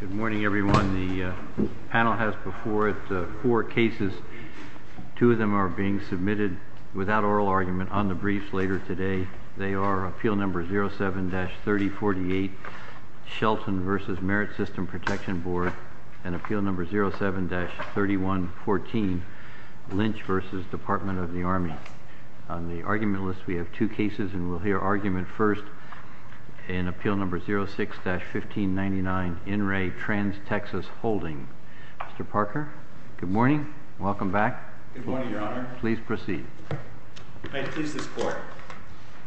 Good morning, everyone. The panel has before it four cases. Two of them are being submitted without oral argument on the briefs later today. They are Appeal No. 07-3048, Shelton v. Merit System Protection Board, and Appeal No. 07-3114, Lynch v. Department of the Army. On the argument list, we have two cases, and we'll hear argument first in Appeal No. 06-1599, In Re Trans Texas Holdings. Mr. Parker, good morning. Welcome back. Good morning, Your Honor. Please proceed. May it please this Court,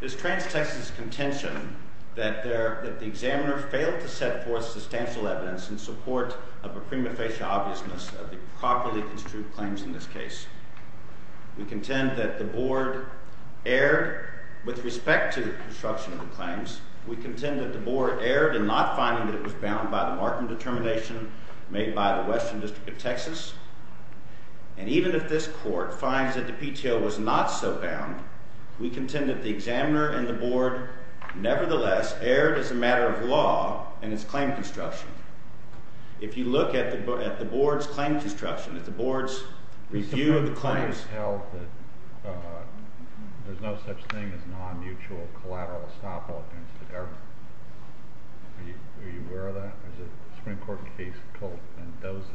is Trans Texas' contention that the examiner failed to set forth substantial evidence in support of a prima facie obviousness of the properly construed claims in this case. We contend that the Board erred with respect to the construction of the claims. We contend that the Board erred in not finding that it was bound by the marking determination made by the Western District of Texas. And even if this Court finds that the PTO was not so bound, we contend that the examiner and the Board nevertheless erred as a matter of law in its claim construction. If you look at the Board's claim construction, at the Board's review of the claims... The claims held that there's no such thing as non-mutual collateral estoppel against the government. Are you aware of that? Or is it a Supreme Court case called Mendoza?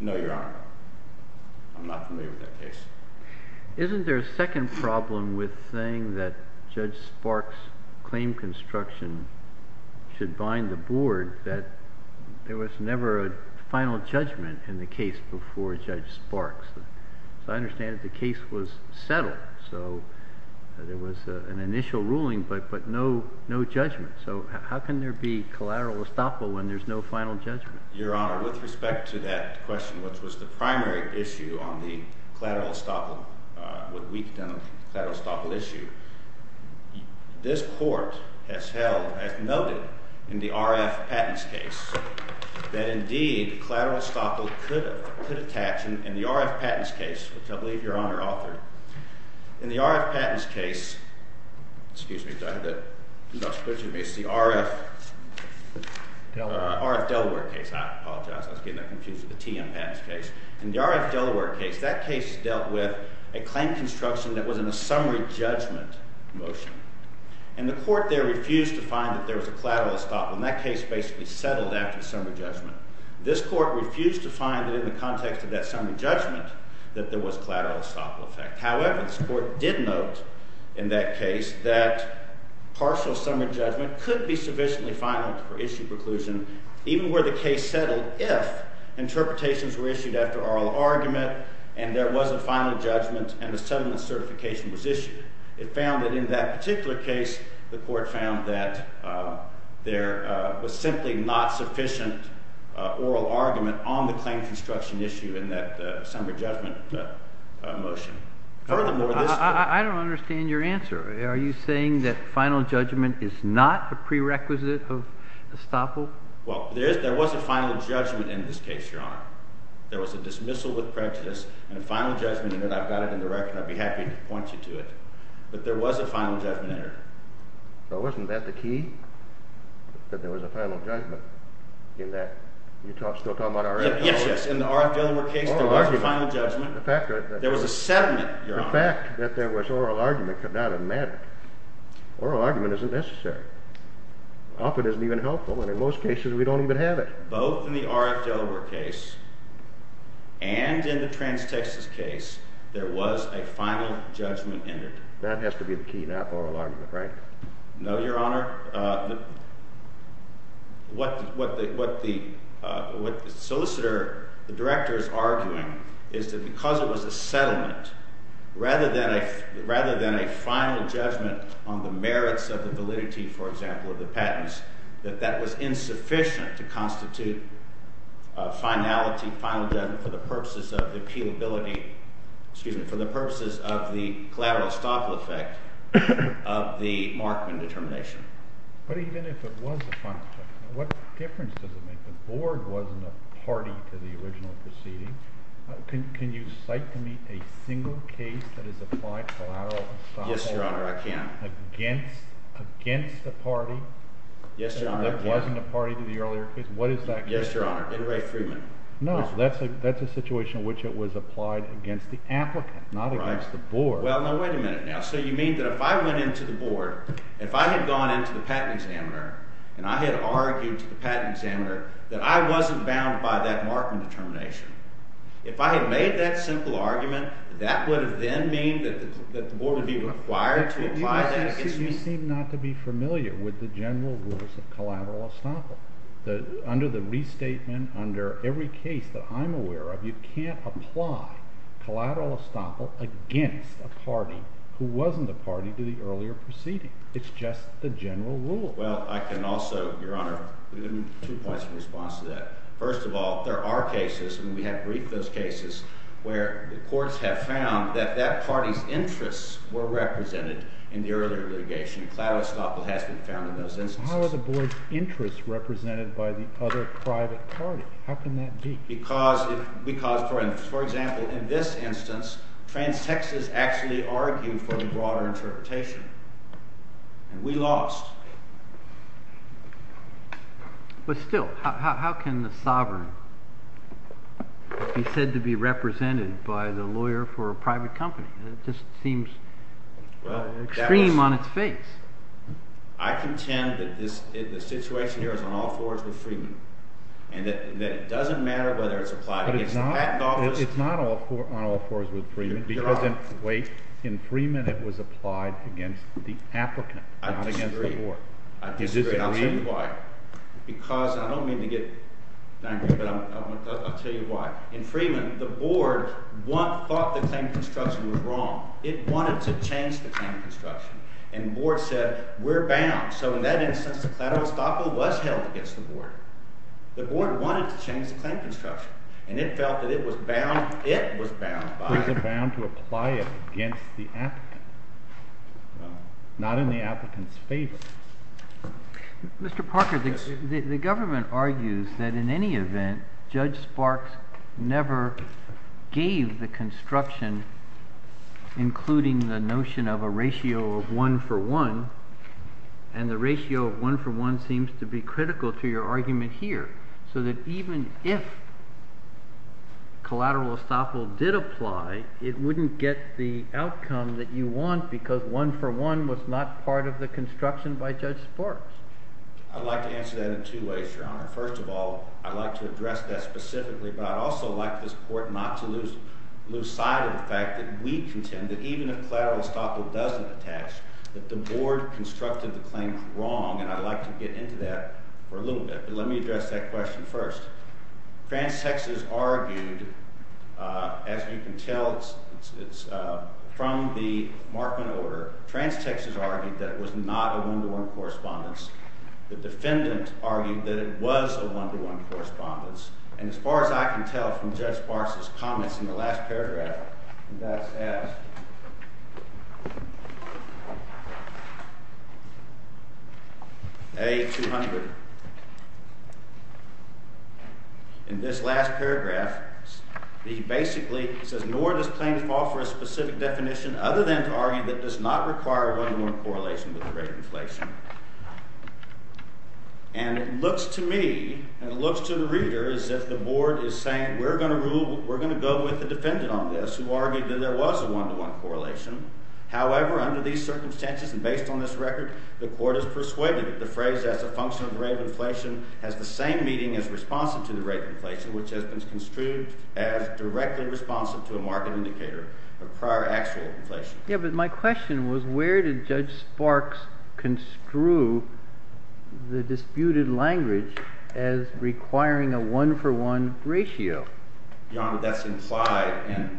No, Your Honor. I'm not familiar with that case. Isn't there a second problem with saying that Judge Sparks' claim construction should bind the Board, that there was never a final judgment in the case before Judge Sparks? As I understand it, the case was settled, so there was an initial ruling, but no judgment. So how can there be collateral estoppel when there's no final judgment? Your Honor, with respect to that question, which was the primary issue on the collateral estoppel, what we've done on the collateral estoppel issue, this Court has held, as noted in the RF Patents case, that indeed collateral estoppel could attach in the RF Patents case, which I believe Your Honor authored. In the RF Delaware case, that case dealt with a claim construction that was in a summary judgment motion. And the Court there refused to find that there was a collateral estoppel, and that case basically settled after the summary judgment. This Court refused to find that in the context of that summary judgment that there was collateral estoppel effect. However, this Court did note in that case that partial summary judgment could be sufficiently final for issue preclusion, even where the case settled, if interpretations were issued after oral argument and there was a final judgment and a settlement certification was issued. It found that in that particular case, the Court found that there was simply not sufficient oral argument on the claim construction issue in that summary judgment motion. I don't understand your answer. Are you saying that final judgment is not a prerequisite of estoppel? Well, there was a final judgment in this case, Your Honor. There was a dismissal with prejudice and a final judgment in it. I've got it in the record, and I'd be happy to point you to it. But there was a final judgment in it. But wasn't that the key, that there was a final judgment in that? You're still talking about RF Delaware? Yes, yes. In the RF Delaware case, there was a final judgment. There was a settlement, Your Honor. The fact that there was oral argument could not have mattered. Oral argument isn't necessary. Often isn't even helpful, and in most cases, we don't even have it. But both in the RF Delaware case and in the trans-Texas case, there was a final judgment in it. That has to be the key, not oral argument, right? No, Your Honor. Your Honor, what the solicitor, the director, is arguing is that because it was a settlement rather than a final judgment on the merits of the validity, for example, of the patents, that that was insufficient to constitute a finality, final judgment for the purposes of the appealability – excuse me – for the purposes of the collateral estoppel effect of the Markman determination. But even if it was a final judgment, what difference does it make? The Board wasn't a party to the original proceedings. Can you cite to me a single case that is applied collateral estoppel? Yes, Your Honor, I can. Against the party? Yes, Your Honor. That wasn't a party to the earlier case? What is that case? Yes, Your Honor. In Ray Freeman. No, that's a situation in which it was applied against the applicant, not against the Board. Right. Well, now wait a minute now. So you mean that if I went into the Board, if I had gone into the patent examiner and I had argued to the patent examiner that I wasn't bound by that Markman determination, if I had made that simple argument, that would have then mean that the Board would be required to apply that against me? You seem not to be familiar with the general rules of collateral estoppel. Under the restatement, under every case that I'm aware of, you can't apply collateral estoppel against a party who wasn't a party to the earlier proceeding. It's just the general rule. Well, I can also, Your Honor, give you two points in response to that. First of all, there are cases, and we have briefed those cases, where the courts have found that that party's interests were represented in the earlier litigation. Collateral estoppel has been found in those instances. How are the Board's interests represented by the other private party? How can that be? Because, for example, in this instance, transsexes actually argued for the broader interpretation, and we lost. But still, how can the sovereign be said to be represented by the lawyer for a private company? It just seems extreme on its face. I contend that the situation here is on all fours with Freeman, and that it doesn't matter whether it's applied against the Patent Office. But it's not on all fours with Freeman, because in Freeman it was applied against the applicant, not against the Board. I disagree. I disagree. I'll say why. Because, and I don't mean to get angry, but I'll tell you why. In Freeman, the Board thought the claim to construction was wrong. It wanted to change the claim to construction, and the Board said, we're bound. So in that instance, the collateral estoppel was held against the Board. The Board wanted to change the claim to construction, and it felt that it was bound by it. It was bound to apply it against the applicant, not in the applicant's favor. Mr. Parker, the government argues that in any event, Judge Sparks never gave the construction, including the notion of a ratio of one for one. And the ratio of one for one seems to be critical to your argument here, so that even if collateral estoppel did apply, it wouldn't get the outcome that you want, because one for one was not part of the construction by Judge Sparks. I'd like to answer that in two ways, Your Honor. First of all, I'd like to address that specifically, but I'd also like this Court not to lose sight of the fact that we contend that even if collateral estoppel doesn't attach, that the Board constructed the claim wrong, and I'd like to get into that for a little bit. But let me address that question first. Trans-Texas argued, as you can tell from the Markman order, Trans-Texas argued that it was not a one-to-one correspondence. The defendant argued that it was a one-to-one correspondence, and as far as I can tell from Judge Sparks' comments in the last paragraph, and that's S.A. 200. In this last paragraph, he basically says, nor does claim fall for a specific definition other than to argue that it does not require a one-to-one correlation with the rate of inflation. And it looks to me, and it looks to the reader, as if the Board is saying, we're going to go with the defendant on this, who argued that there was a one-to-one correlation. However, under these circumstances and based on this record, the Court is persuaded that the phrase, as a function of the rate of inflation, has the same meaning as responsive to the rate of inflation, which has been construed as directly responsive to a market indicator of prior actual inflation. Yeah, but my question was, where did Judge Sparks construe the disputed language as requiring a one-for-one ratio? Your Honor, that's implied.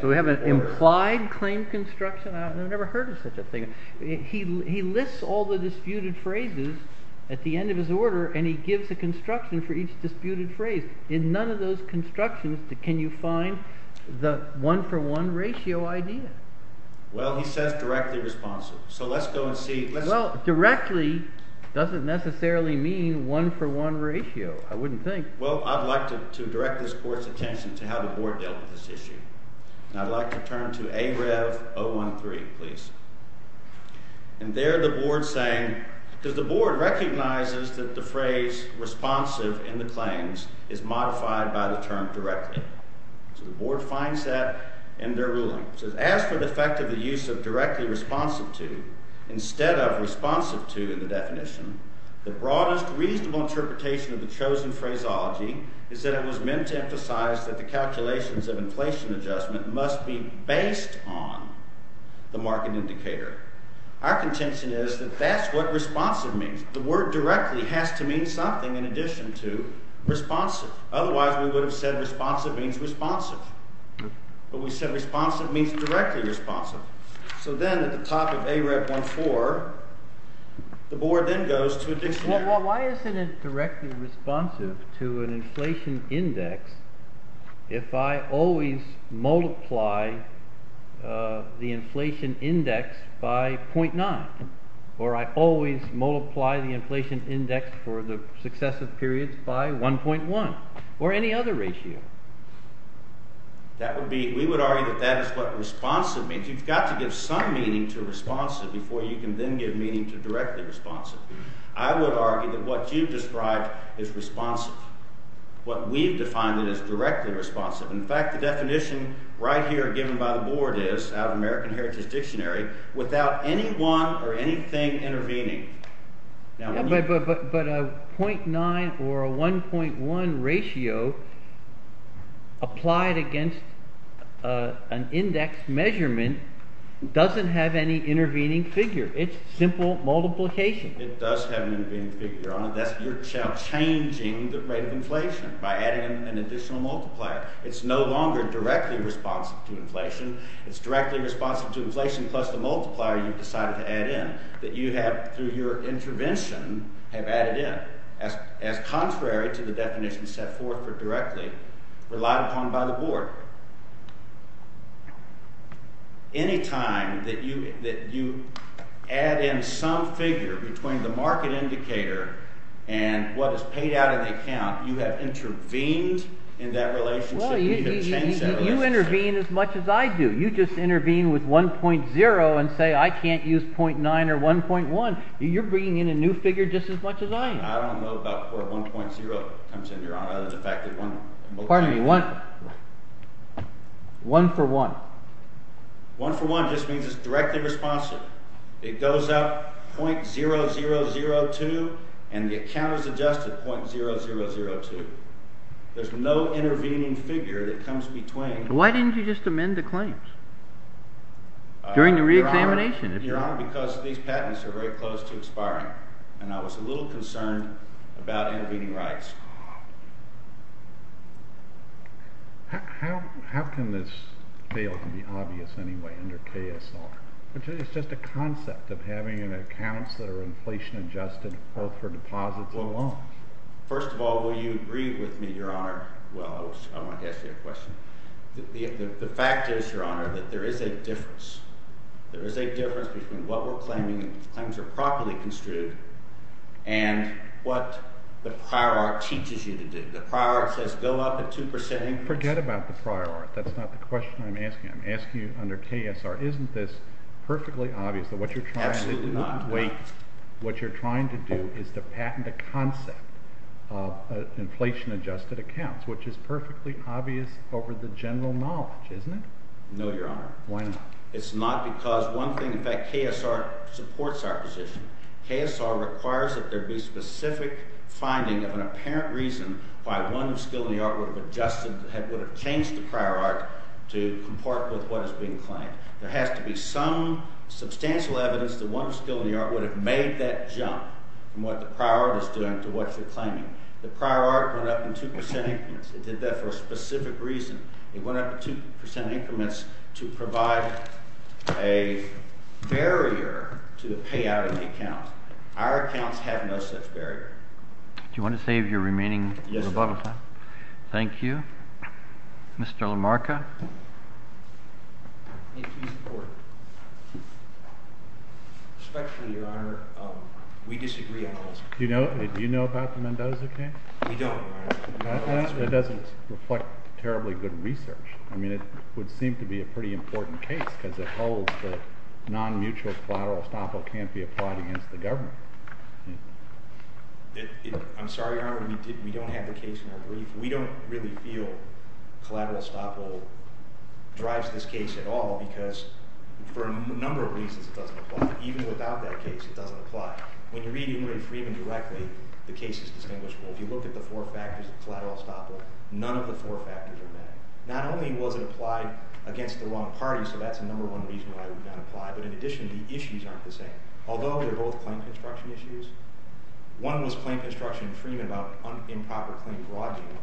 So we have an implied claim construction? I've never heard of such a thing. He lists all the disputed phrases at the end of his order, and he gives a construction for each disputed phrase. In none of those constructions can you find the one-for-one ratio idea. Well, he says directly responsive, so let's go and see. Well, directly doesn't necessarily mean one-for-one ratio, I wouldn't think. Well, I'd like to direct this Court's attention to how the Board dealt with this issue, and I'd like to turn to A. Rev. 013, please. And there the Board's saying – because the Board recognizes that the phrase responsive in the claims is modified by the term directly. So the Board finds that in their ruling. It says, as for the effect of the use of directly responsive to instead of responsive to in the definition, the broadest reasonable interpretation of the chosen phraseology is that it was meant to emphasize that the calculations of inflation adjustment must be based on the market indicator. Our contention is that that's what responsive means. The word directly has to mean something in addition to responsive. Otherwise, we would have said responsive means responsive. But we said responsive means directly responsive. So then at the top of A. Rev. 014, the Board then goes to a dictionary. Well, why isn't it directly responsive to an inflation index if I always multiply the inflation index by 0.9, or I always multiply the inflation index for the successive periods by 1.1, or any other ratio? That would be – we would argue that that is what responsive means. You've got to give some meaning to responsive before you can then give meaning to directly responsive. I would argue that what you've described is responsive. What we've defined is directly responsive. In fact, the definition right here given by the Board is, out of American Heritage Dictionary, without anyone or anything intervening. But a 0.9 or a 1.1 ratio applied against an index measurement doesn't have any intervening figure. It's simple multiplication. It does have an intervening figure on it. You're changing the rate of inflation by adding an additional multiplier. It's no longer directly responsive to inflation. It's directly responsive to inflation plus the multiplier you've decided to add in that you have, through your intervention, have added in. As contrary to the definition set forth for directly relied upon by the Board. Any time that you add in some figure between the market indicator and what is paid out of the account, you have intervened in that relationship. Well, you intervene as much as I do. You just intervene with 1.0 and say I can't use 0.9 or 1.1. You're bringing in a new figure just as much as I am. I don't know about where 1.0 comes in, Your Honor, other than the fact that one— Pardon me. One for one. One for one just means it's directly responsive. It goes up 0.0002 and the account is adjusted 0.0002. There's no intervening figure that comes between— Why didn't you just amend the claims during the reexamination? Your Honor, because these patents are very close to expiring, and I was a little concerned about intervening rights. How can this fail to be obvious anyway under KSR? It's just a concept of having accounts that are inflation-adjusted both for deposits and— Well, first of all, will you agree with me, Your Honor—well, I wanted to ask you a question. The fact is, Your Honor, that there is a difference. There is a difference between what we're claiming and the claims are properly construed and what the prior art teaches you to do. The prior art says go up at 2%. Forget about the prior art. That's not the question I'm asking. I'm asking you under KSR, isn't this perfectly obvious that what you're trying to do— Absolutely not. Wait. What you're trying to do is to patent a concept of inflation-adjusted accounts, which is perfectly obvious over the general knowledge, isn't it? No, Your Honor. Why not? It's not because one thing—in fact, KSR supports our position. KSR requires that there be specific finding of an apparent reason why one skill in the art would have adjusted—would have changed the prior art to comport with what is being claimed. There has to be some substantial evidence that one skill in the art would have made that jump from what the prior art is doing to what you're claiming. The prior art went up in 2% increments. It did that for a specific reason. It went up in 2% increments to provide a barrier to the payout of the account. Our accounts have no such barrier. Do you want to save your remaining little bubble time? Yes, sir. Thank you. Mr. LaMarca? Respectfully, Your Honor, we disagree on all this. Do you know about the Mendoza case? We don't, Your Honor. It doesn't reflect terribly good research. I mean, it would seem to be a pretty important case because it holds that non-mutual collateral estoppel can't be applied against the government. I'm sorry, Your Honor, we don't have the case in our brief. We don't really feel collateral estoppel drives this case at all because, for a number of reasons, it doesn't apply. Even without that case, it doesn't apply. When you're reading Ray Freeman directly, the case is distinguishable. If you look at the four factors of collateral estoppel, none of the four factors are met. Not only was it applied against the wrong party, so that's the number one reason why it would not apply, but in addition, the issues aren't the same. Although they're both claim construction issues, one was claim construction in Freeman about improper claim broadening,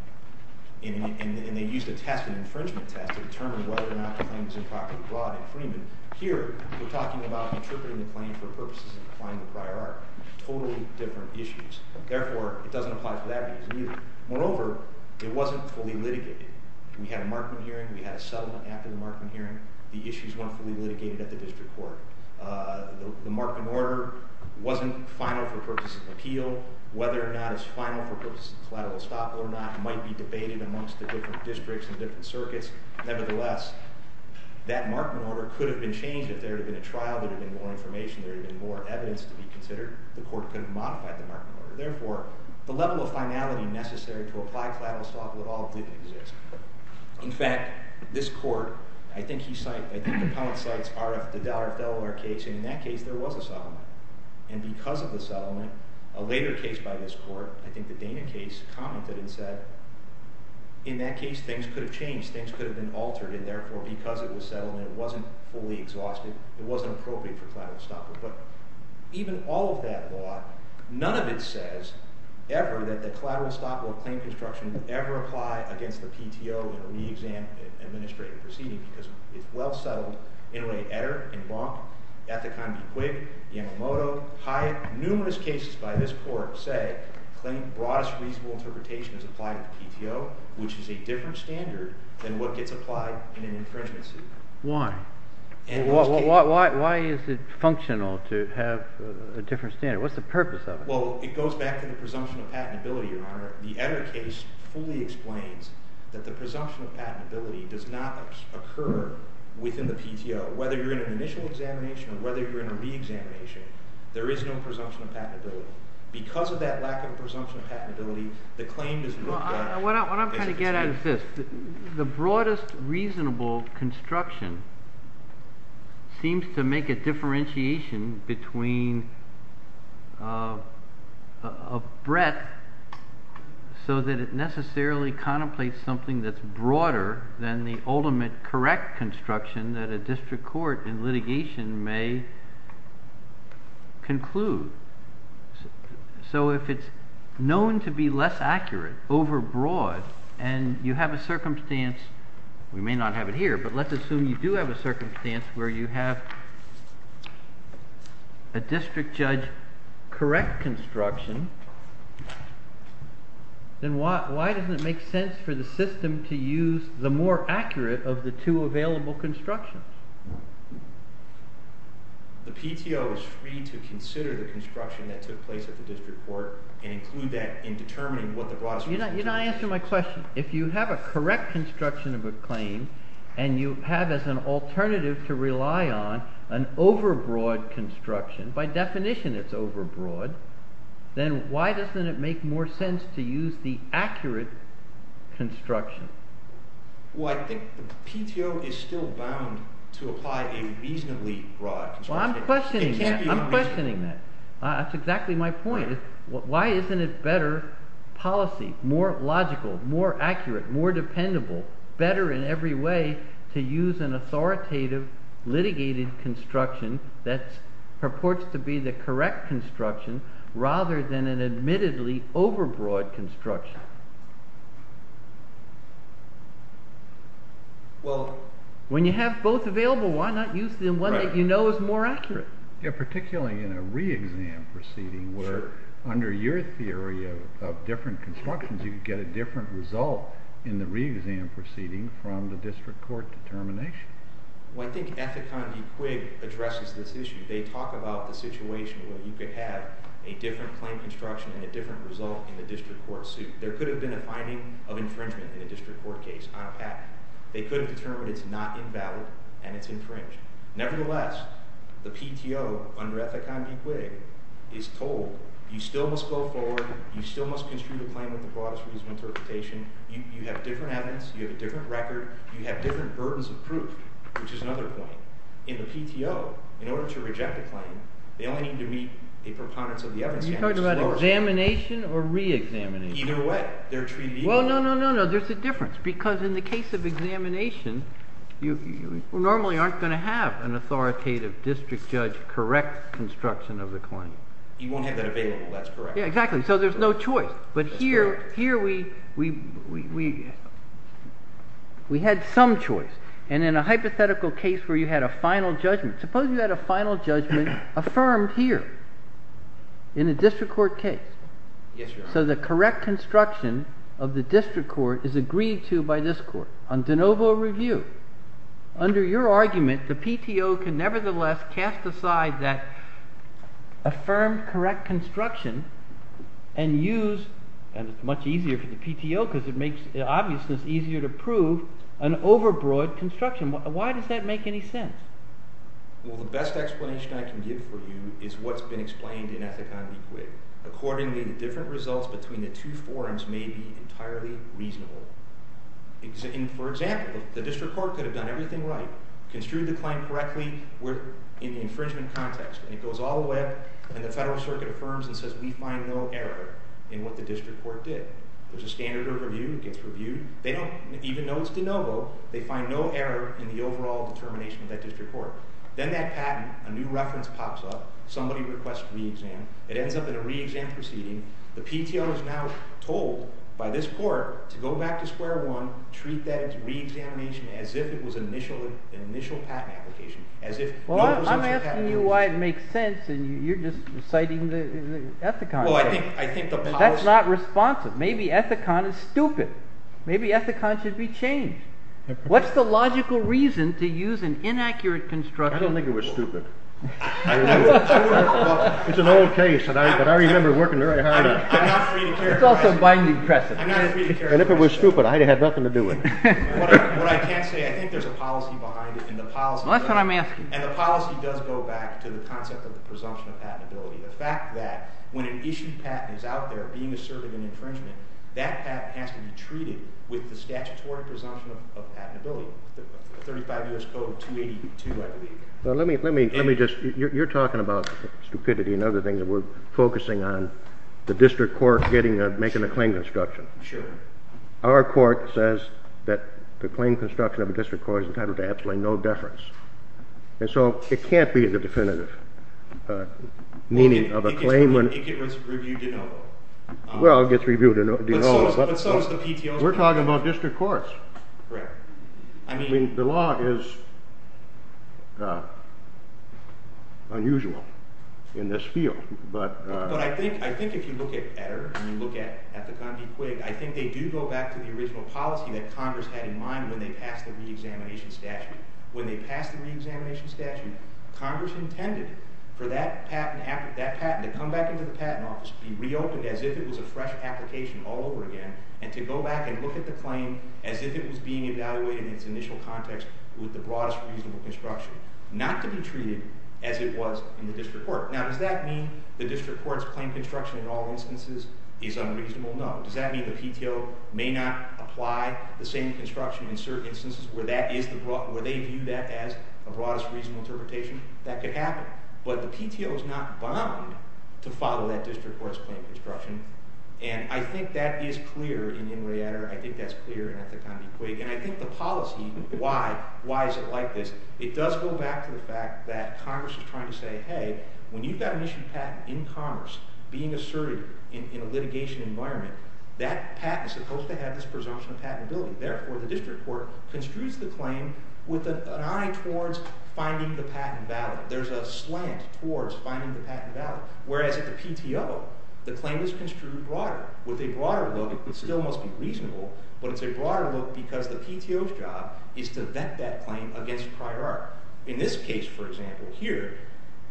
and they used a test, an infringement test, to determine whether or not the claim was improperly broad in Freeman. Here, we're talking about interpreting the claim for purposes of applying the prior article. Totally different issues. Therefore, it doesn't apply for that reason either. Moreover, it wasn't fully litigated. We had a markman hearing. We had a settlement after the markman hearing. The issues weren't fully litigated at the district court. The markman order wasn't final for purposes of appeal. Whether or not it's final for purposes of collateral estoppel or not might be debated amongst the different districts and different circuits. Nevertheless, that markman order could have been changed if there had been a trial, there would have been more information, there would have been more evidence to be considered. The court could have modified the markman order. Therefore, the level of finality necessary to apply collateral estoppel at all didn't exist. In fact, this court, I think he cited, I think the pundit cites RF, the dollar of Delaware case, and in that case, there was a settlement. And because of the settlement, a later case by this court, I think the Dana case, commented and said, in that case, things could have changed. Things could have been altered, and therefore, because it was settlement, it wasn't fully exhausted. It wasn't appropriate for collateral estoppel. But even all of that law, none of it says ever that the collateral estoppel claim construction would ever apply against the PTO in a re-exam and administrative proceeding, because it's well settled. Inmate Etter in Bronx, Ethicon B. Quigg, Yamamoto, numerous cases by this court say claim broadest reasonable interpretation is applied to the PTO, which is a different standard than what gets applied in an infringement suit. Why? Why is it functional to have a different standard? What's the purpose of it? Well, it goes back to the presumption of patentability, Your Honor. The Etter case fully explains that the presumption of patentability does not occur within the PTO. Whether you're in an initial examination or whether you're in a re-examination, there is no presumption of patentability. Because of that lack of presumption of patentability, the claim does not apply. What I'm trying to get at is this. The broadest reasonable construction seems to make a differentiation between a breadth so that it necessarily contemplates something that's broader than the ultimate correct construction that a district court in litigation may conclude. So if it's known to be less accurate over broad and you have a circumstance, we may not have it here, but let's assume you do have a circumstance where you have a district judge correct construction, then why doesn't it make sense for the system to use the more accurate of the two available constructions? The PTO is free to consider the construction that took place at the district court and include that in determining what the broadest reasonable construction is. You're not answering my question. If you have a correct construction of a claim and you have as an alternative to rely on an over broad construction, by definition it's over broad, then why doesn't it make more sense to use the accurate construction? Well, I think the PTO is still bound to apply a reasonably broad construction. Well, I'm questioning that. It can't be unreasonable. I'm questioning that. That's exactly my point. Why isn't it better policy, more logical, more accurate, more dependable, better in every way to use an authoritative litigated construction that purports to be the correct construction rather than an admittedly over broad construction? When you have both available, why not use the one that you know is more accurate? Yeah, particularly in a re-exam proceeding where under your theory of different constructions you could get a different result in the re-exam proceeding from the district court determination. Well, I think Ethicon v. Quigg addresses this issue. They talk about the situation where you could have a different claim construction and a different result in the district court suit. There could have been a finding of infringement in a district court case on a patent. They could have determined it's not invalid and it's infringed. Nevertheless, the PTO under Ethicon v. Quigg is told you still must go forward. You still must construe the claim with the broadest reasonable interpretation. You have different evidence. You have a different record. You have different burdens of proof, which is another point. In the PTO, in order to reject a claim, they only need to meet a preponderance of the evidence standard. Are you talking about examination or re-examination? Either way. They're treated equally. Well, no, no, no, no. There's a difference because in the case of examination, you normally aren't going to have an authoritative district judge correct construction of the claim. You won't have that available. That's correct. Yeah, exactly. So there's no choice. That's correct. But here we had some choice. And in a hypothetical case where you had a final judgment, suppose you had a final judgment affirmed here in a district court case. Yes, Your Honor. So the correct construction of the district court is agreed to by this court on de novo review. Under your argument, the PTO can nevertheless cast aside that affirmed correct construction and use, and it's much easier for the PTO because it makes obviousness easier to prove, an overbroad construction. Why does that make any sense? Well, the best explanation I can give for you is what's been explained in Ethic on Equate. Accordingly, the different results between the two forums may be entirely reasonable. For example, the district court could have done everything right, construed the claim correctly in the infringement context, and it goes all the way up, and the federal circuit affirms and says we find no error in what the district court did. There's a standard overview. It gets reviewed. They don't, even though it's de novo, they find no error in the overall determination of that district court. Then that patent, a new reference pops up. Somebody requests re-exam. It ends up in a re-exam proceeding. The PTO is now told by this court to go back to square one, treat that re-examination as if it was an initial patent application, as if no such patent was used. Well, I'm asking you why it makes sense, and you're just reciting the Ethicon. Well, I think the policy— That's not responsive. Maybe Ethicon is stupid. Maybe Ethicon should be changed. What's the logical reason to use an inaccurate construction? I don't think it was stupid. Well, it's an old case, but I remember working very hard on it. I'm not free to characterize it. It's also binding precedent. I'm not free to characterize it. And if it was stupid, I'd have had nothing to do with it. What I can say, I think there's a policy behind it, and the policy— Well, that's what I'm asking. And the policy does go back to the concept of the presumption of patentability, the fact that when an issued patent is out there being asserted an infringement, that patent has to be treated with the statutory presumption of patentability, 35 U.S. Code 282, I believe. Well, let me just—you're talking about stupidity and other things, and we're focusing on the district court making a claim construction. Sure. Our court says that the claim construction of a district court is entitled to absolutely no deference. And so it can't be the definitive meaning of a claim when— It gets reviewed in OVA. Well, it gets reviewed in OVA. But so is the PTO. We're talking about district courts. Correct. I mean, the law is unusual in this field, but— But I think if you look at EDER and you look at the Condi-Quigg, I think they do go back to the original policy that Congress had in mind when they passed the reexamination statute. When they passed the reexamination statute, Congress intended for that patent to come back into the patent office, be reopened as if it was a fresh application all over again, and to go back and look at the claim as if it was being evaluated in its initial context with the broadest reasonable construction, not to be treated as it was in the district court. Now, does that mean the district court's claim construction in all instances is unreasonable? No. Does that mean the PTO may not apply the same construction in certain instances where they view that as a broadest reasonable interpretation? That could happen. But the PTO is not bound to follow that district court's claim construction. And I think that is clear in the EDER. I think that's clear in the Condi-Quigg. And I think the policy—why? Why is it like this? It does go back to the fact that Congress is trying to say, hey, when you've got an issued patent in commerce being asserted in a litigation environment, that patent is supposed to have this presumption of patentability. Therefore, the district court construes the claim with an eye towards finding the patent valid. There's a slant towards finding the patent valid. Whereas at the PTO, the claim is construed broader. With a broader look, it still must be reasonable. But it's a broader look because the PTO's job is to vet that claim against prior art. In this case, for example, here,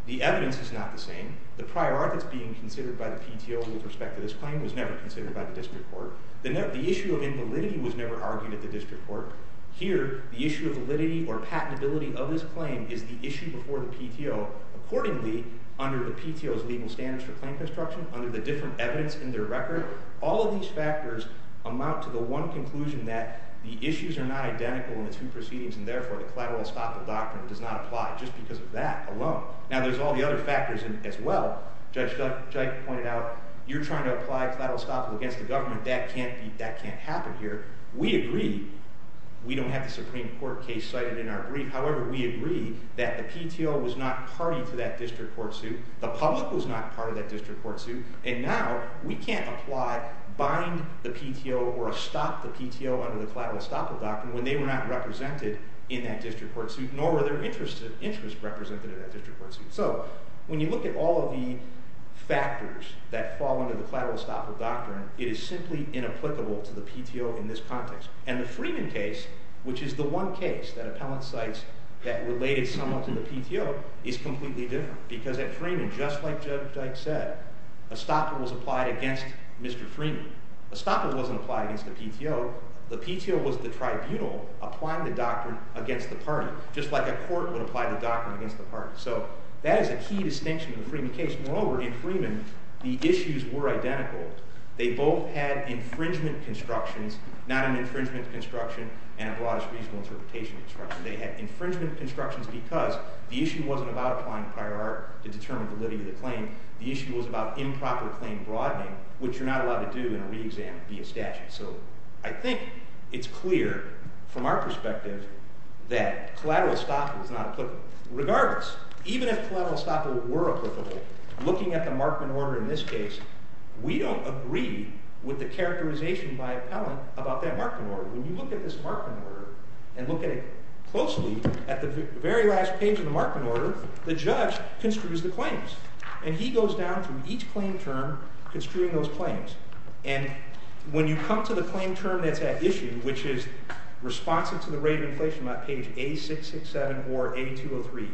the evidence is not the same. The prior art that's being considered by the PTO with respect to this claim was never considered by the district court. The issue of invalidity was never argued at the district court. Here, the issue of validity or patentability of this claim is the issue before the PTO. Accordingly, under the PTO's legal standards for claim construction, under the different evidence in their record, all of these factors amount to the one conclusion that the issues are not identical in the two proceedings, and therefore the collateral estoppel doctrine does not apply just because of that alone. Now, there's all the other factors as well. Judge Jike pointed out, you're trying to apply collateral estoppel against the government. That can't happen here. We agree we don't have the Supreme Court case cited in our brief. However, we agree that the PTO was not party to that district court suit. The public was not part of that district court suit. And now we can't apply, bind the PTO or stop the PTO under the collateral estoppel doctrine when they were not represented in that district court suit, nor were their interests represented in that district court suit. So when you look at all of the factors that fall under the collateral estoppel doctrine, it is simply inapplicable to the PTO in this context. And the Freeman case, which is the one case that appellant cites that related somewhat to the PTO, is completely different because at Freeman, just like Judge Jike said, estoppel was applied against Mr. Freeman. Estoppel wasn't applied against the PTO. The PTO was the tribunal applying the doctrine against the party, just like a court would apply the doctrine against the party. So that is a key distinction in the Freeman case. Moreover, in Freeman, the issues were identical. They both had infringement constructions, not an infringement construction and a broadest reasonable interpretation construction. They had infringement constructions because the issue wasn't about applying prior art to determine validity of the claim. The issue was about improper claim broadening, which you're not allowed to do in a reexam via statute. So I think it's clear from our perspective that collateral estoppel is not applicable. Regardless, even if collateral estoppel were applicable, looking at the Markman order in this case, we don't agree with the characterization by appellant about that Markman order. When you look at this Markman order and look at it closely, at the very last page of the Markman order, the judge construes the claims. And he goes down through each claim term construing those claims. And when you come to the claim term that's at issue, which is responsive to the rate of inflation on page A667 or A203,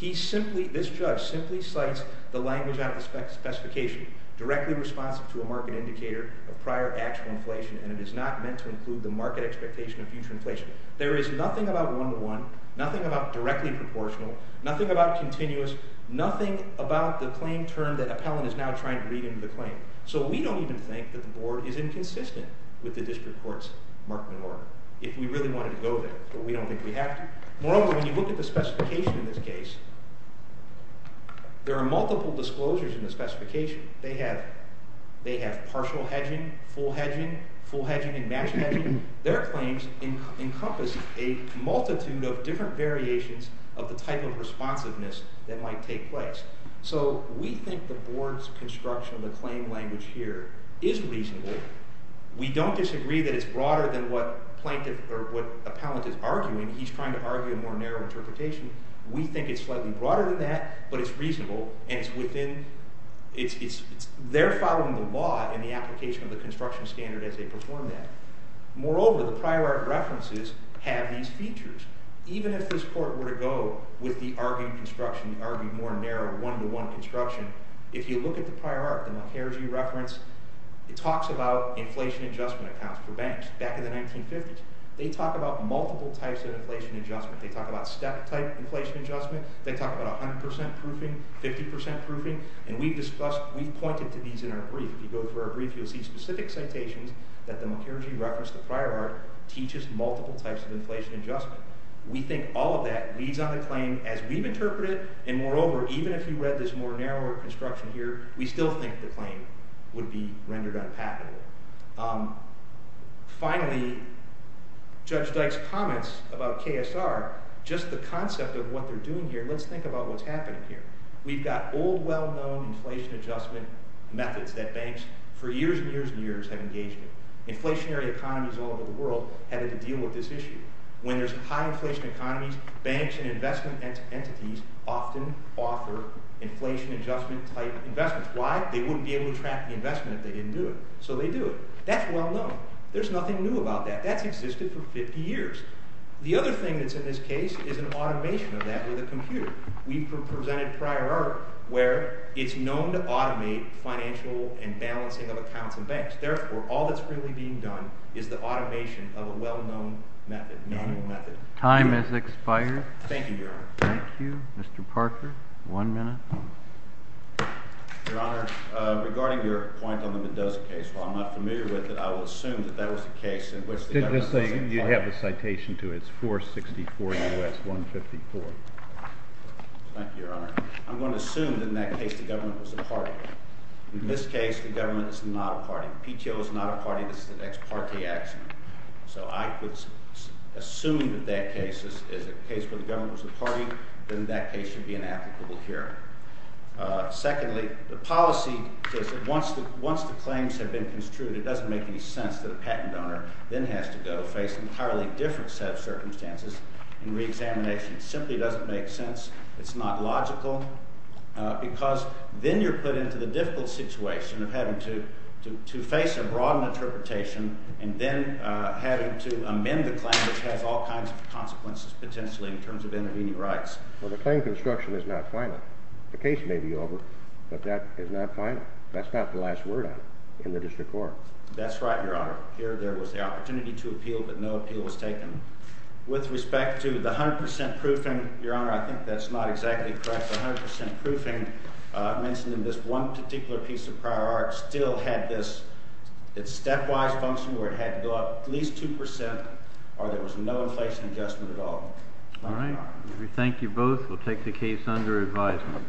either page, this judge simply cites the language out of the specification, directly responsive to a market indicator of prior actual inflation, and it is not meant to include the market expectation of future inflation. There is nothing about one-to-one, nothing about directly proportional, nothing about continuous, nothing about the claim term that appellant is now trying to read into the claim. So we don't even think that the board is inconsistent with the district court's Markman order, if we really wanted to go there, but we don't think we have to. Moreover, when you look at the specification in this case, there are multiple disclosures in the specification. They have partial hedging, full hedging, full hedging and matched hedging. Their claims encompass a multitude of different variations of the type of responsiveness that might take place. So we think the board's construction of the claim language here is reasonable. We don't disagree that it's broader than what plaintiff or what appellant is arguing. He's trying to argue a more narrow interpretation. We think it's slightly broader than that, but it's reasonable, and they're following the law and the application of the construction standard as they perform that. Moreover, the prior art references have these features. Even if this court were to go with the argued construction, the argued more narrow one-to-one construction, if you look at the prior art, the McKergee reference, it talks about inflation adjustment accounts for banks back in the 1950s. They talk about multiple types of inflation adjustment. They talk about step-type inflation adjustment. They talk about 100% proofing, 50% proofing, and we've discussed, we've pointed to these in our brief. If you go through our brief, you'll see specific citations that the McKergee reference, the prior art, teaches multiple types of inflation adjustment. We think all of that leads on the claim as we've interpreted it, and moreover, even if you read this more narrow construction here, we still think the claim would be rendered unpalatable. Finally, Judge Dyke's comments about KSR, just the concept of what they're doing here, let's think about what's happening here. We've got old, well-known inflation adjustment methods that banks for years and years and years have engaged in. Inflationary economies all over the world have had to deal with this issue. When there's high-inflation economies, banks and investment entities often offer inflation adjustment-type investments. Why? They wouldn't be able to track the investment if they didn't do it, so they do it. That's well-known. There's nothing new about that. That's existed for 50 years. The other thing that's in this case is an automation of that with a computer. We've presented prior art where it's known to automate financial and balancing of accounts and banks. Therefore, all that's really being done is the automation of a well-known method, known method. Time has expired. Thank you, Your Honor. Thank you. Mr. Parker, one minute. Your Honor, regarding your point on the Mendoza case, while I'm not familiar with it, I will assume that that was the case in which the government was imparting. You have a citation to it. It's 464 U.S. 154. Thank you, Your Honor. I'm going to assume that in that case the government was imparting. In this case, the government is not imparting. PTO is not imparting. This is an ex parte action. So I would assume that that case is a case where the government was imparting, then that case should be inapplicable here. Secondly, the policy says that once the claims have been construed, it doesn't make any sense that a patent owner then has to go face an entirely different set of circumstances and reexamination. It simply doesn't make sense. It's not logical because then you're put into the difficult situation of having to face a broad interpretation and then having to amend the claim, which has all kinds of consequences potentially in terms of intervening rights. Well, the claim construction is not final. The case may be over, but that is not final. That's not the last word on it in the district court. That's right, Your Honor. Here there was the opportunity to appeal, but no appeal was taken. With respect to the 100% proofing, Your Honor, I think that's not exactly correct. The 100% proofing, I mentioned in this one particular piece of prior art, still had this stepwise function where it had to go up at least 2% or there was no inflation adjustment at all. All right. We thank you both. We'll take the case under advisement.